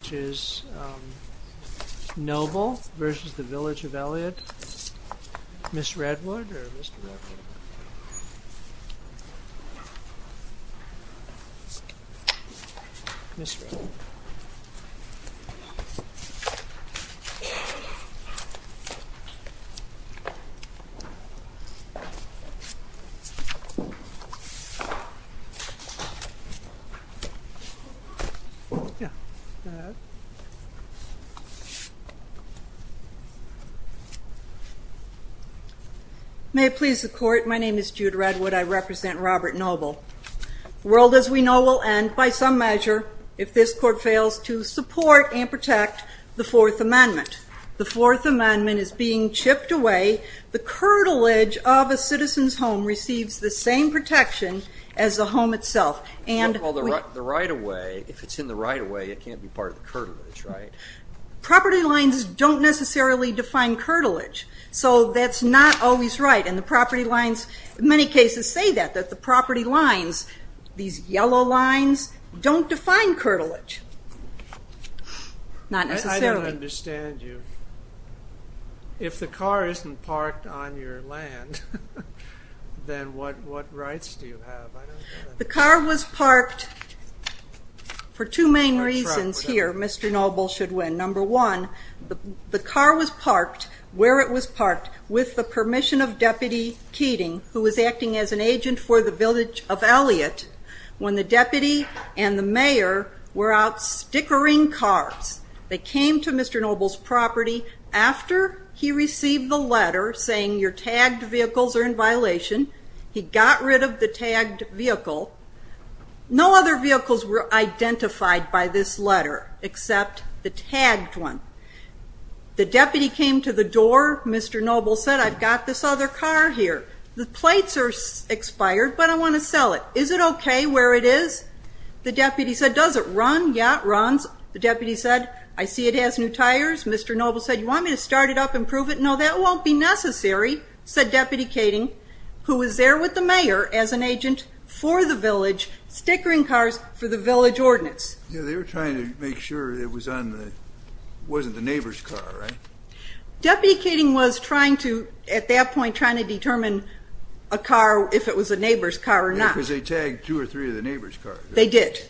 Which is Nobel v. The Village of Elliott, Mrs. Redwood and Mrs. Redwood May it please the court, my name is Jude Redwood, I represent Robert Noble. The world as we know will end by some measure if this court fails to support and protect the Fourth Amendment. The Fourth Amendment is being chipped away. The curtilage of a citizen's home receives the same protection as the home itself. And the right-of-way, if it's in the right-of-way it can't be part of the curtilage, right? Property lines don't necessarily define curtilage, so that's not always right and the property lines, many cases say that, that the property lines, these yellow lines, don't define curtilage. Not necessarily. I don't understand you. If the car isn't parked on your land, then what rights do you have? The car was parked for two main reasons here, Mr. Noble should win. Number one, the car was parked where it was parked with the permission of Deputy Keating, who was acting as an agent for the Village of Elliott, when the deputy and the mayor were out stickering cars. They came to Mr. Noble's property after he received the letter saying your tagged vehicles are in violation. He got rid of the tagged vehicle. No other vehicles were identified by this letter except the tagged one. The deputy came to the door, Mr. Noble said, I've got this other car here. The plates are expired, but I want to sell it. Is it okay where it is? The deputy said, does it run? Yeah, it runs. The deputy said, I see it has new tires. Mr. Noble said, you want me to start it up and prove it? No, that won't be necessary, said Deputy Keating, who was there with the mayor as an agent for the village, stickering cars for the village ordinance. Yeah, they were trying to make sure it wasn't the neighbor's car, right? Deputy Keating was trying to, at that point, trying to determine a car, if it was a neighbor's car or not. Yeah, because they tagged two or three of the neighbor's cars. They did.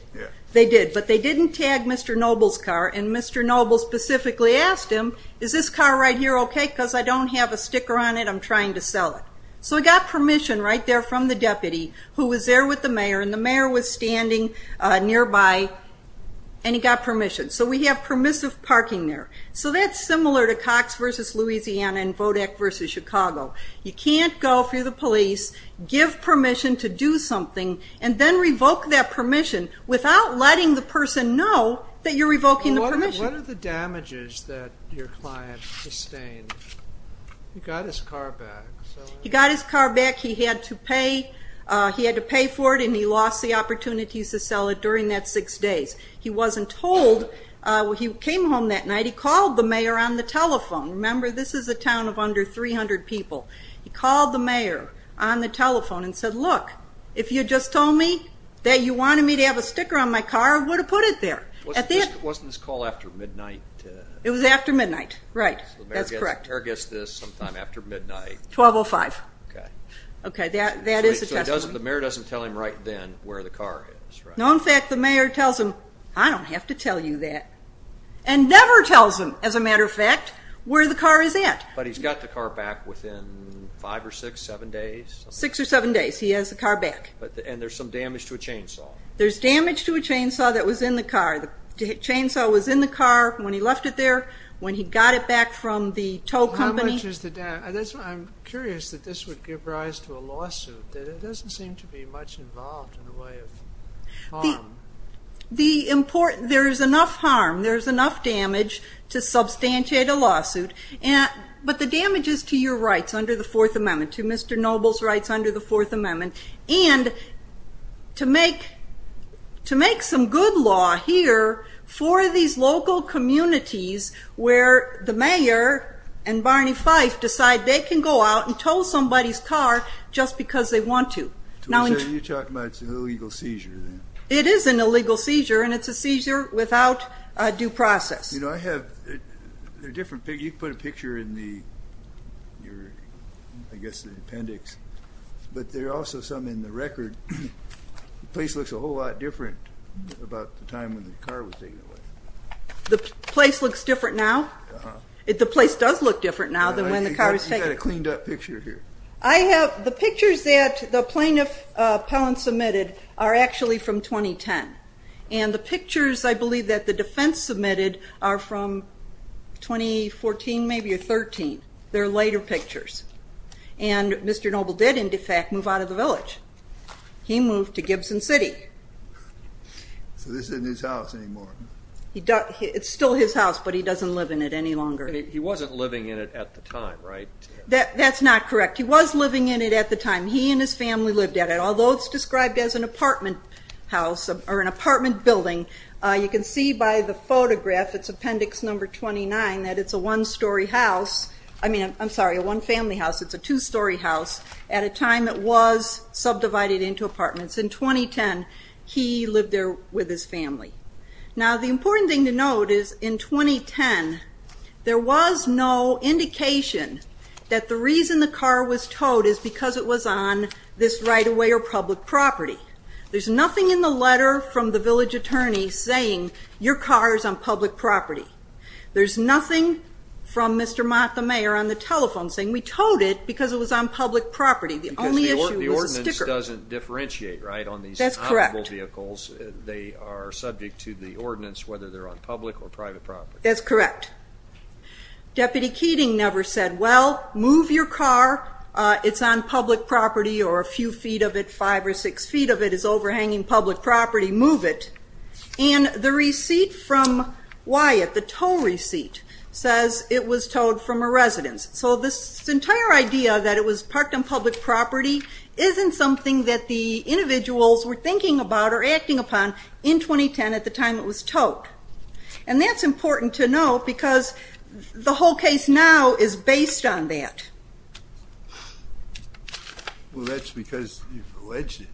They did, but they didn't tag Mr. Noble's car. And Mr. Noble specifically asked him, is this car right here okay? Because I don't have a sticker on it, I'm trying to sell it. So he got permission right there from the deputy, who was there with the mayor, and the mayor was standing nearby, and he got permission. So we have permissive parking there. So that's similar to Cox v. Louisiana and Vodak v. Chicago. You can't go through the police, give permission to do something, and then revoke that permission without letting the person know that you're revoking the permission. What are the damages that your client sustained? He got his car back. He got his car back, he had to pay for it, and he lost the opportunities to sell it during that six days. He wasn't told. He came home that night, he called the mayor on the telephone. Remember, this is a town of under 300 people. He called the mayor on the telephone and said, look, if you'd just told me that you It was after midnight, right. That's correct. So the mayor gets this sometime after midnight. 1205. Okay. Okay, that is a testimony. So the mayor doesn't tell him right then where the car is, right? No, in fact, the mayor tells him, I don't have to tell you that, and never tells him, as a matter of fact, where the car is at. But he's got the car back within five or six, seven days? Six or seven days, he has the left it there, when he got it back from the tow company. How much is the damage? I'm curious that this would give rise to a lawsuit. It doesn't seem to be much involved in the way of harm. There is enough harm, there is enough damage to substantiate a lawsuit. But the damage is to your rights under the Fourth Amendment, to Mr. Noble's rights under the Fourth Amendment. And to make some good law here for these local communities, where the mayor and Barney Fife decide they can go out and tow somebody's car just because they want to. So you're talking about an illegal seizure? It is an illegal seizure, and it's a seizure without due process. You know, I have a different picture. You put a picture in the appendix, but there are also some in the record. The place looks a whole lot different about the time when the car was taken away. The place looks different now? The place does look different now than when the car was taken. You've got a cleaned up picture here. The pictures that the plaintiff, Pellin, submitted are actually from 2010. And the pictures, I believe, that the defense submitted are from 2014 maybe or 2013. They're later pictures. And Mr. Noble did, in fact, move out of the village. He moved to Gibson City. So this isn't his house anymore? It's still his house, but he doesn't live in it any longer. He wasn't living in it at the time, right? That's not correct. He was living in it at the time. He and his family lived at it. Although it's described as an apartment building, you can see by the photograph, it's appendix number 29, that it's a one-story house. I mean, I'm sorry, a one-family house. It's a two-story house at a time it was subdivided into apartments. In 2010, he lived there with his family. Now, the important thing to note is in 2010, there was no indication that the reason the car was towed is because it was on this right-of-way or public property. There's nothing in the letter from the village attorney saying your car is on public property. There's nothing from Mr. Mott, the mayor, on the telephone saying we towed it because it was on public property. The only issue was the sticker. Because the ordinance doesn't differentiate, right, on these vehicles. That's correct. They are subject to the ordinance whether they're on public or private property. That's correct. Deputy Keating never said, well, move your car. It's on public property or a few feet of it, five or six feet of it is overhanging public property. Move it. And the receipt from Wyatt, the tow receipt, says it was towed from a residence. So this entire idea that it was parked on public property isn't something that the individuals were thinking about or acting upon in 2010 at the time it was towed. And that's important to note because the whole case now is based on that. Well, that's because you've alleged it.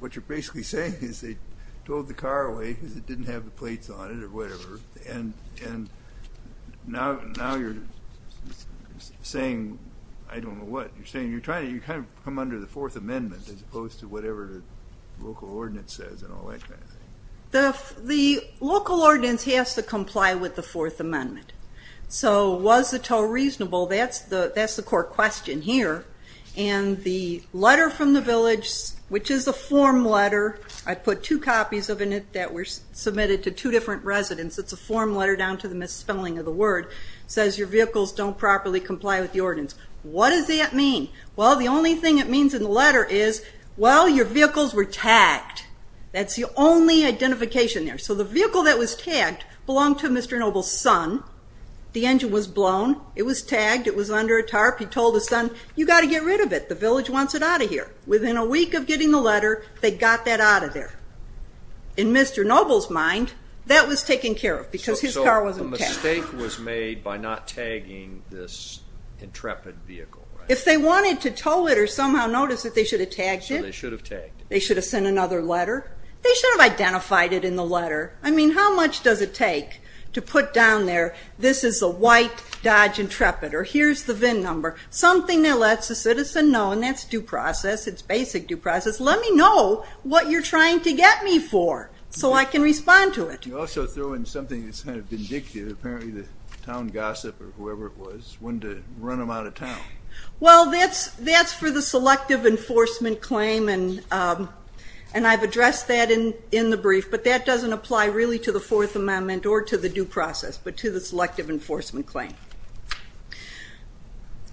What you're basically saying is they towed the car away because it didn't have the plates on it or whatever, and now you're saying I don't know what. You're saying you're trying to come under the Fourth Amendment as opposed to whatever the local ordinance says and all that kind of thing. The local ordinance has to comply with the Fourth Amendment. So was the tow reasonable? That's the core question here. And the letter from the village, which is a form letter. I put two copies of it that were submitted to two different residents. It's a form letter down to the misspelling of the word. It says your vehicles don't properly comply with the ordinance. What does that mean? Well, the only thing it means in the letter is, well, your vehicles were tagged. That's the only identification there. So the vehicle that was tagged belonged to Mr. Noble's son. The engine was blown. It was tagged. It was under a tarp. He told his son, you've got to get rid of it. The village wants it out of here. Within a week of getting the letter, they got that out of there. In Mr. Noble's mind, that was taken care of because his car wasn't tagged. So the mistake was made by not tagging this intrepid vehicle, right? If they wanted to tow it or somehow notice that they should have tagged it. So they should have tagged it. They should have sent another letter. They should have identified it in the letter. I mean, how much does it take to put down there this is a white Dodge Intrepid or here's the VIN number, something that lets a citizen know, and that's due process, it's basic due process, let me know what you're trying to get me for so I can respond to it. You also throw in something that's kind of vindictive. Apparently the town gossip or whoever it was wanted to run them out of town. Well, that's for the selective enforcement claim, and I've addressed that in the brief, but that doesn't apply really to the Fourth Amendment or to the due process but to the selective enforcement claim.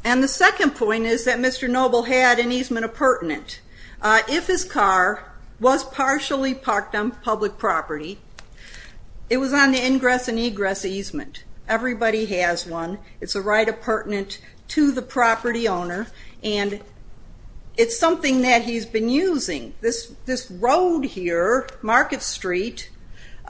And the second point is that Mr. Noble had an easement appurtenant. If his car was partially parked on public property, it was on the ingress and egress easement. Everybody has one. It's a right appurtenant to the property owner, and it's something that he's been using. This road here, Market Street,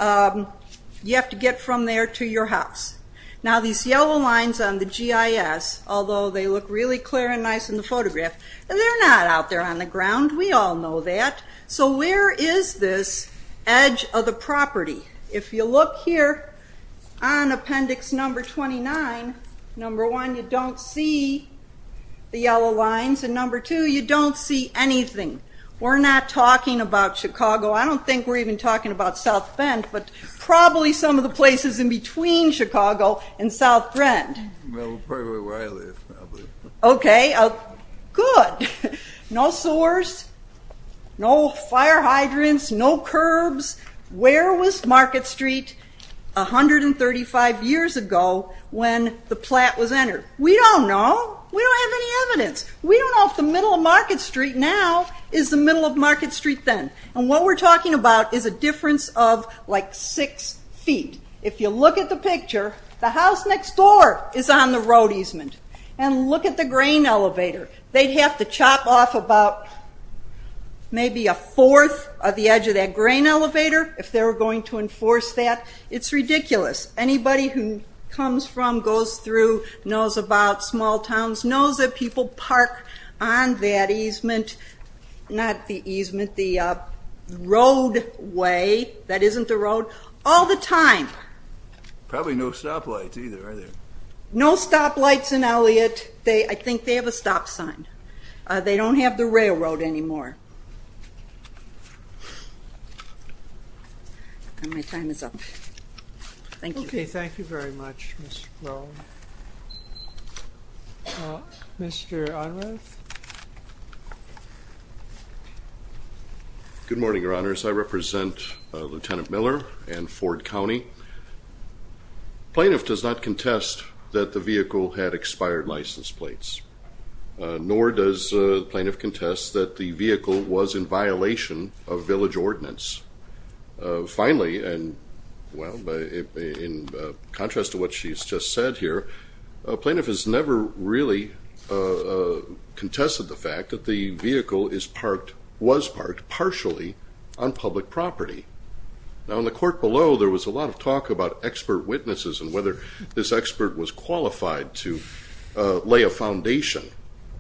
you have to get from there to your house. Now these yellow lines on the GIS, although they look really clear and nice in the photograph, they're not out there on the ground. We all know that. So where is this edge of the property? If you look here on appendix number 29, number one, you don't see the yellow lines, and number two, you don't see anything. We're not talking about Chicago. I don't think we're even talking about South Bend, but probably some of the places in between Chicago and South Bend. Probably where I live. Okay, good. No sewers, no fire hydrants, no curbs. Where was Market Street 135 years ago when the plat was entered? We don't know. We don't have any evidence. We don't know if the middle of Market Street now is the middle of Market Street then. And what we're talking about is a difference of like six feet. If you look at the picture, the house next door is on the road easement. And look at the grain elevator. They'd have to chop off about maybe a fourth of the edge of that grain elevator if they were going to enforce that. It's ridiculous. Anybody who comes from, goes through, knows about small towns knows that people park on that easement, not the easement, the roadway. That isn't the road. All the time. Probably no stoplights either, are there? No stoplights in Elliott. I think they have a stop sign. They don't have the railroad anymore. And my time is up. Thank you. Okay, thank you very much, Mr. Brown. Mr. Unruh. Good morning, Your Honors. I represent Lieutenant Miller and Ford County. Plaintiff does not contest that the vehicle had expired license plates, nor does the plaintiff contest that the vehicle was in violation of village ordinance. Finally, and, well, in contrast to what she's just said here, a plaintiff has never really contested the fact that the vehicle is parked, was parked, partially on public property. Now, in the court below, there was a lot of talk about expert witnesses and whether this expert was qualified to lay a foundation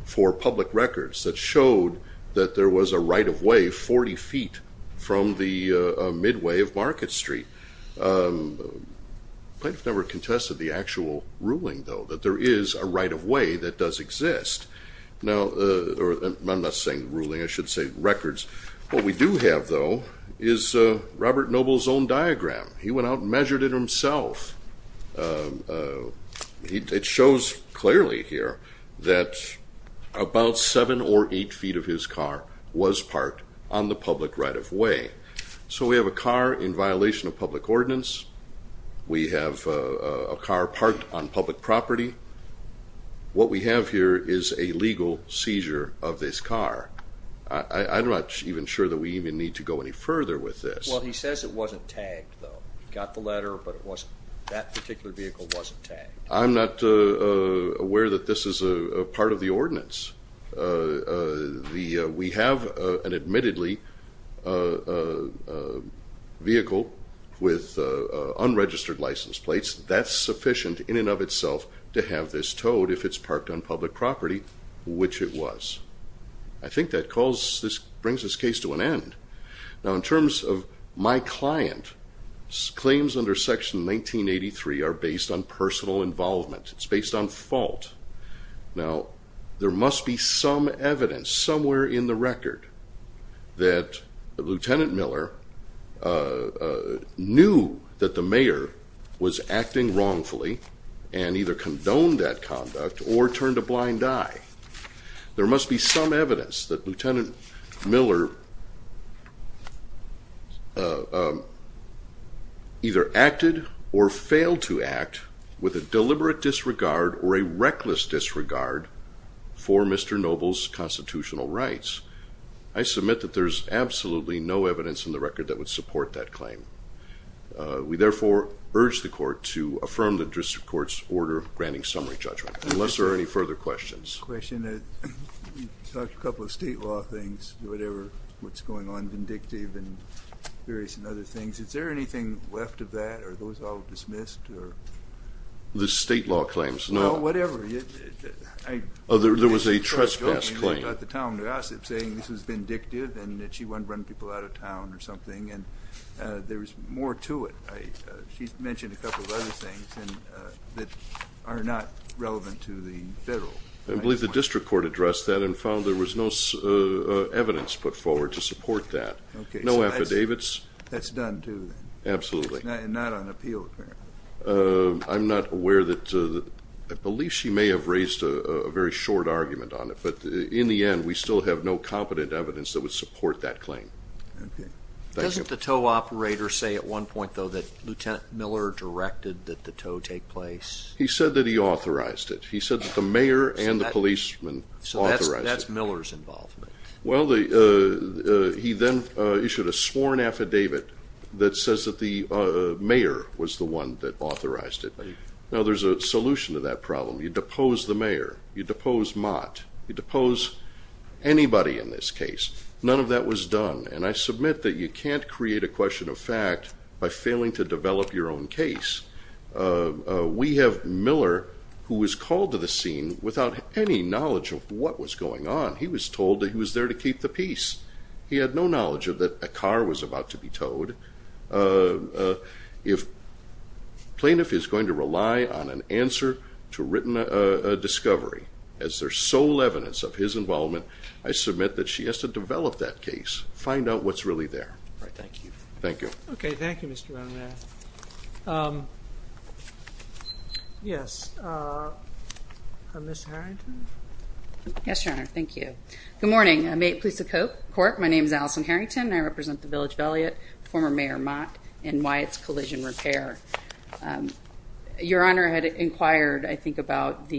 for public records that showed that there was a right-of-way 40 feet from the midway of Market Street. The plaintiff never contested the actual ruling, though, that there is a right-of-way that does exist. Now, I'm not saying ruling, I should say records. What we do have, though, is Robert Noble's own diagram. He went out and measured it himself. It shows clearly here that about 7 or 8 feet of his car was parked on the public right-of-way. So we have a car in violation of public ordinance. We have a car parked on public property. What we have here is a legal seizure of this car. I'm not even sure that we even need to go any further with this. Well, he says it wasn't tagged, though. He got the letter, but that particular vehicle wasn't tagged. I'm not aware that this is a part of the ordinance. We have an admittedly vehicle with unregistered license plates. That's sufficient in and of itself to have this towed if it's parked on public property, which it was. I think that brings this case to an end. Now, in terms of my client, claims under Section 1983 are based on personal involvement. It's based on fault. Now, there must be some evidence somewhere in the record that Lieutenant Miller knew that the mayor was acting wrongfully and either condoned that conduct or turned a blind eye. There must be some evidence that Lieutenant Miller either acted or failed to act with a deliberate disregard or a reckless disregard for Mr. Noble's constitutional rights. I submit that there's absolutely no evidence in the record that would support that claim. We, therefore, urge the Court to affirm the District Court's order granting summary judgment. Unless there are any further questions. I have a question. You talked a couple of state law things, whatever, what's going on, vindictive and various other things. Is there anything left of that? Are those all dismissed? The state law claims, no. Well, whatever. There was a trespass claim. She brought the town to us saying this was vindictive and that she wanted to run people out of town or something. And there was more to it. She mentioned a couple of other things that are not relevant to the federal. I believe the District Court addressed that and found there was no evidence put forward to support that. No affidavits. That's done, too, then. Absolutely. And not on appeal, apparently. I'm not aware that, I believe she may have raised a very short argument on it. But in the end, we still have no competent evidence that would support that claim. Okay. Doesn't the tow operator say at one point, though, that Lieutenant Miller directed that the tow take place? He said that he authorized it. He said that the mayor and the policeman authorized it. So that's Miller's involvement. Well, he then issued a sworn affidavit that says that the mayor was the one that authorized it. Now, there's a solution to that problem. You depose the mayor. You depose Mott. You depose anybody in this case. None of that was done. And I submit that you can't create a question of fact by failing to develop your own case. We have Miller, who was called to the scene without any knowledge of what was going on. He was told that he was there to keep the peace. He had no knowledge that a car was about to be towed. If plaintiff is going to rely on an answer to a written discovery as their sole evidence of his involvement, I submit that she has to develop that case, find out what's really there. All right. Thank you. Thank you. Okay. Thank you, Mr. Monrath. Yes. Ms. Harrington? Yes, Your Honor. Thank you. Good morning. May it please the court. My name is Allison Harrington, and I represent the Village Valiant, former Mayor Mott, and Wyatt's Collision Repair. Your Honor had inquired, I think, about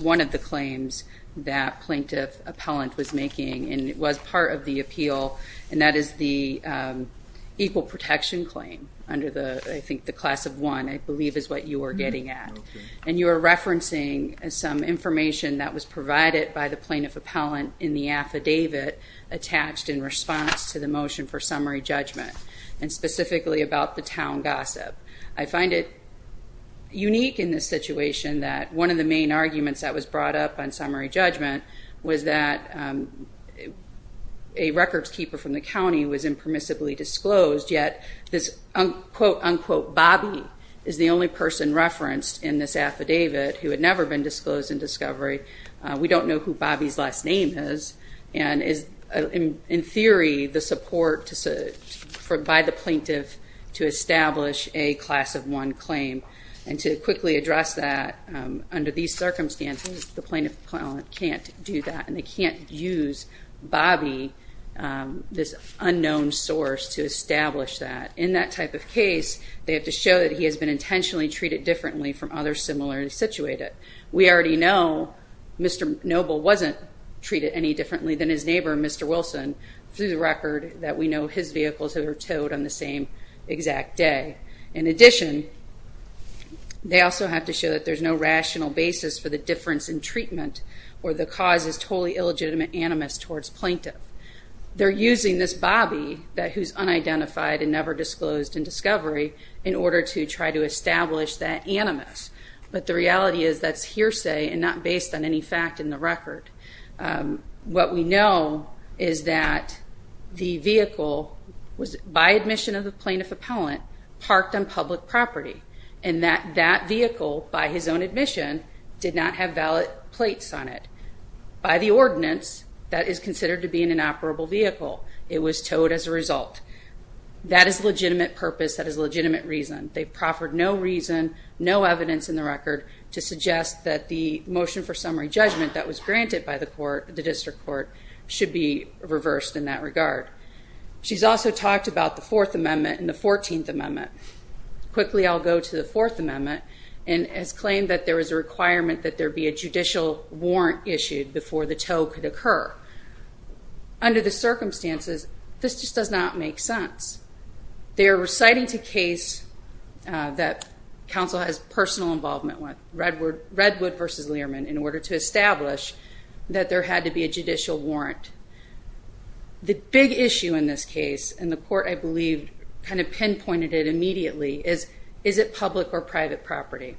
one of the claims that plaintiff appellant was making, and it was part of the appeal, and that is the equal protection claim under, I think, the class of one, I believe is what you were getting at. Okay. And you were referencing some information that was provided by the plaintiff appellant in the affidavit attached in response to the motion for summary judgment, and specifically about the town gossip. I find it unique in this situation that one of the main arguments that was brought up on summary judgment was that a records keeper from the county was impermissibly disclosed, yet this quote-unquote Bobby is the only person referenced in this affidavit who had never been disclosed in discovery. We don't know who Bobby's last name is, and is, in theory, the support by the plaintiff to establish a class of one claim. And to quickly address that, under these circumstances, the plaintiff appellant can't do that, and they can't use Bobby, this unknown source, to establish that. In that type of case, they have to show that he has been intentionally treated differently from others similarly situated. We already know Mr. Noble wasn't treated any differently than his neighbor, Mr. Wilson, through the record that we know his vehicles were towed on the same exact day. In addition, they also have to show that there's no rational basis for the difference in treatment or the cause is totally illegitimate animus towards plaintiff. They're using this Bobby who's unidentified and never disclosed in discovery in order to try to establish that animus. But the reality is that's hearsay and not based on any fact in the record. What we know is that the vehicle was, by admission of the plaintiff appellant, parked on public property, and that that vehicle, by his own admission, did not have valid plates on it. By the ordinance, that is considered to be an inoperable vehicle. It was towed as a result. That is a legitimate purpose. That is a legitimate reason. They proffered no reason, no evidence in the record, to suggest that the motion for summary judgment that was granted by the court, the district court, should be reversed in that regard. She's also talked about the Fourth Amendment and the Fourteenth Amendment. Quickly, I'll go to the Fourth Amendment, and has claimed that there is a requirement that there be a judicial warrant issued before the tow could occur. Under the circumstances, this just does not make sense. They are reciting to case that counsel has personal involvement with, Redwood v. Learman, in order to establish that there had to be a judicial warrant. The big issue in this case, and the court, I believe, kind of pinpointed it immediately, is is it public or private property?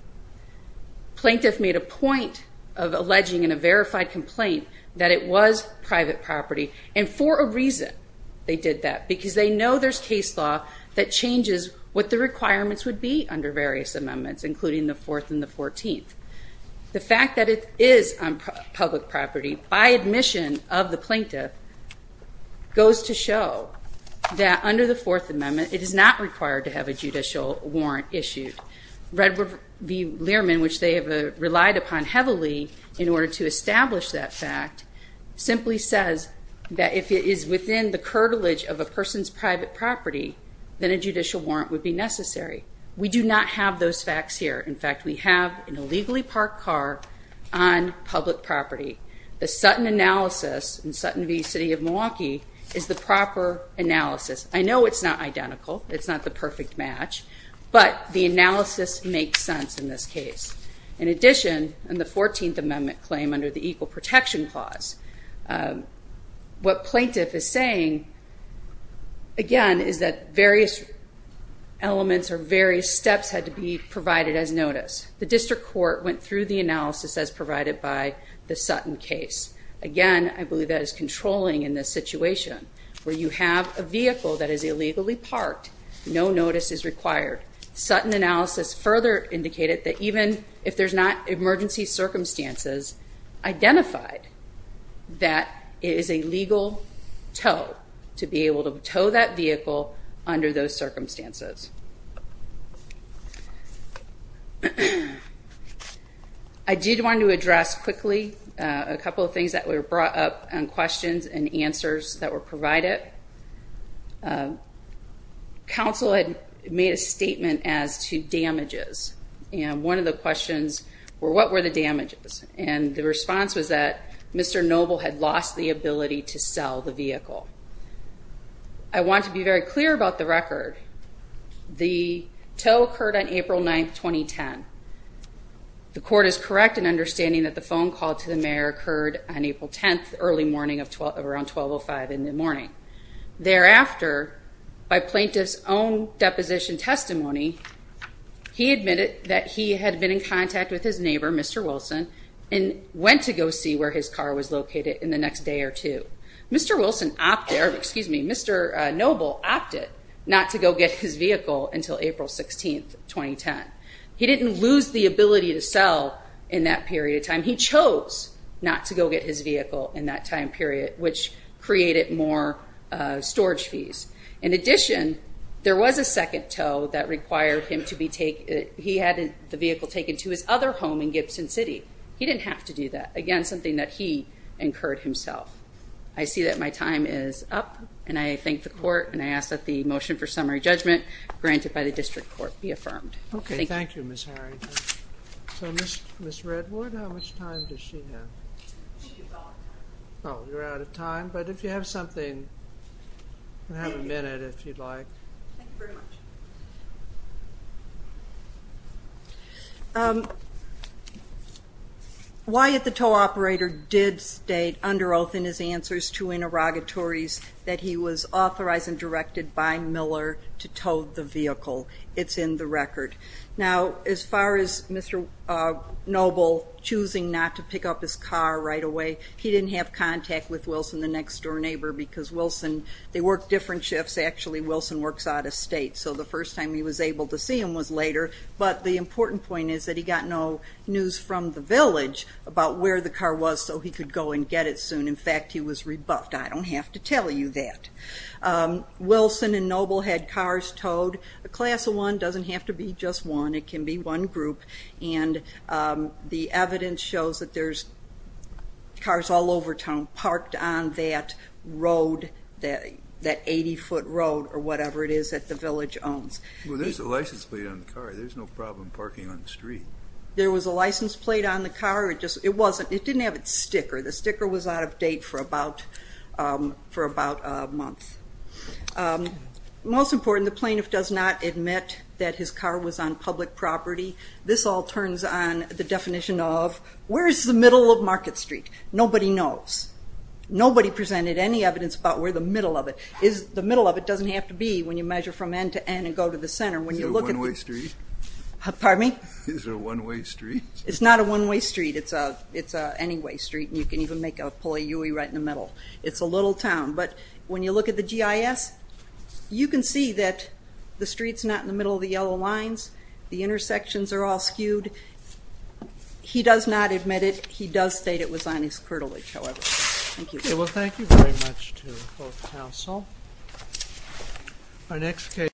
Plaintiff made a point of alleging in a verified complaint that it was private property, and for a reason they did that, because they know there's case law that changes what the requirements would be under various amendments, including the Fourth and the Fourteenth. The fact that it is public property, by admission of the plaintiff, goes to show that under the Fourth Amendment, it is not required to have a judicial warrant issued. Redwood v. Learman, which they have relied upon heavily in order to establish that fact, simply says that if it is within the curtilage of a person's private property, then a judicial warrant would be necessary. We do not have those facts here. In fact, we have an illegally parked car on public property. The Sutton analysis in Sutton v. City of Milwaukee is the proper analysis. I know it's not identical. It's not the perfect match, but the analysis makes sense in this case. In addition, in the Fourteenth Amendment claim, under the Equal Protection Clause, what plaintiff is saying, again, is that various elements or various steps had to be provided as notice. The district court went through the analysis as provided by the Sutton case. Again, I believe that is controlling in this situation where you have a vehicle that is illegally parked. No notice is required. Sutton analysis further indicated that even if there's not emergency circumstances identified, that it is a legal tow to be able to tow that vehicle under those circumstances. I did want to address quickly a couple of things that were brought up in questions and answers that were provided. Council had made a statement as to damages, and one of the questions were, what were the damages? And the response was that Mr. Noble had lost the ability to sell the vehicle. I want to be very clear about the record. The tow occurred on April 9th, 2010. The court is correct in understanding that the phone call to the mayor occurred on April 10th, early morning of around 12.05 in the morning. Thereafter, by plaintiff's own deposition testimony, he admitted that he had been in contact with his neighbor, Mr. Wilson, and went to go see where his car was located in the next day or two. Mr. Noble opted not to go get his vehicle until April 16th, 2010. He didn't lose the ability to sell in that period of time. He chose not to go get his vehicle in that time period, which created more storage fees. In addition, there was a second tow that required him to be taken, he had the vehicle taken to his other home in Gibson City. He didn't have to do that. Again, something that he incurred himself. I see that my time is up, and I thank the court, and I ask that the motion for summary judgment, granted by the district court, be affirmed. Okay, thank you, Ms. Harry. So, Ms. Redwood, how much time does she have? She's out of time. Oh, you're out of time. But if you have something, you have a minute if you'd like. Thank you very much. Wyatt, the tow operator, did state under oath in his answers to interrogatories that he was authorized and directed by Miller to tow the vehicle. It's in the record. Now, as far as Mr. Noble choosing not to pick up his car right away, he didn't have contact with Wilson, the next door neighbor, because Wilson, they work different shifts, actually. Wilson works out of state. So the first time he was able to see him was later. But the important point is that he got no news from the village about where the car was so he could go and get it soon. In fact, he was rebuffed. I don't have to tell you that. Wilson and Noble had cars towed. A class of one doesn't have to be just one. It can be one group. And the evidence shows that there's cars all over town parked on that road, that 80-foot road or whatever it is that the village owns. Well, there's a license plate on the car. There's no problem parking on the street. There was a license plate on the car. It didn't have its sticker. The sticker was out of date for about a month. Most important, the plaintiff does not admit that his car was on public property. This all turns on the definition of where is the middle of Market Street? Nobody knows. Nobody presented any evidence about where the middle of it is. The middle of it doesn't have to be when you measure from end to end and go to the center. Is it a one-way street? Pardon me? Is it a one-way street? It's not a one-way street. It's an any-way street. You can even make a pulley right in the middle. It's a little town. But when you look at the GIS, you can see that the street's not in the middle of the yellow lines. The intersections are all skewed. He does not admit it. He does state it was on his curtilage, however. Thank you. Okay. Well, thank you very much to both counsel.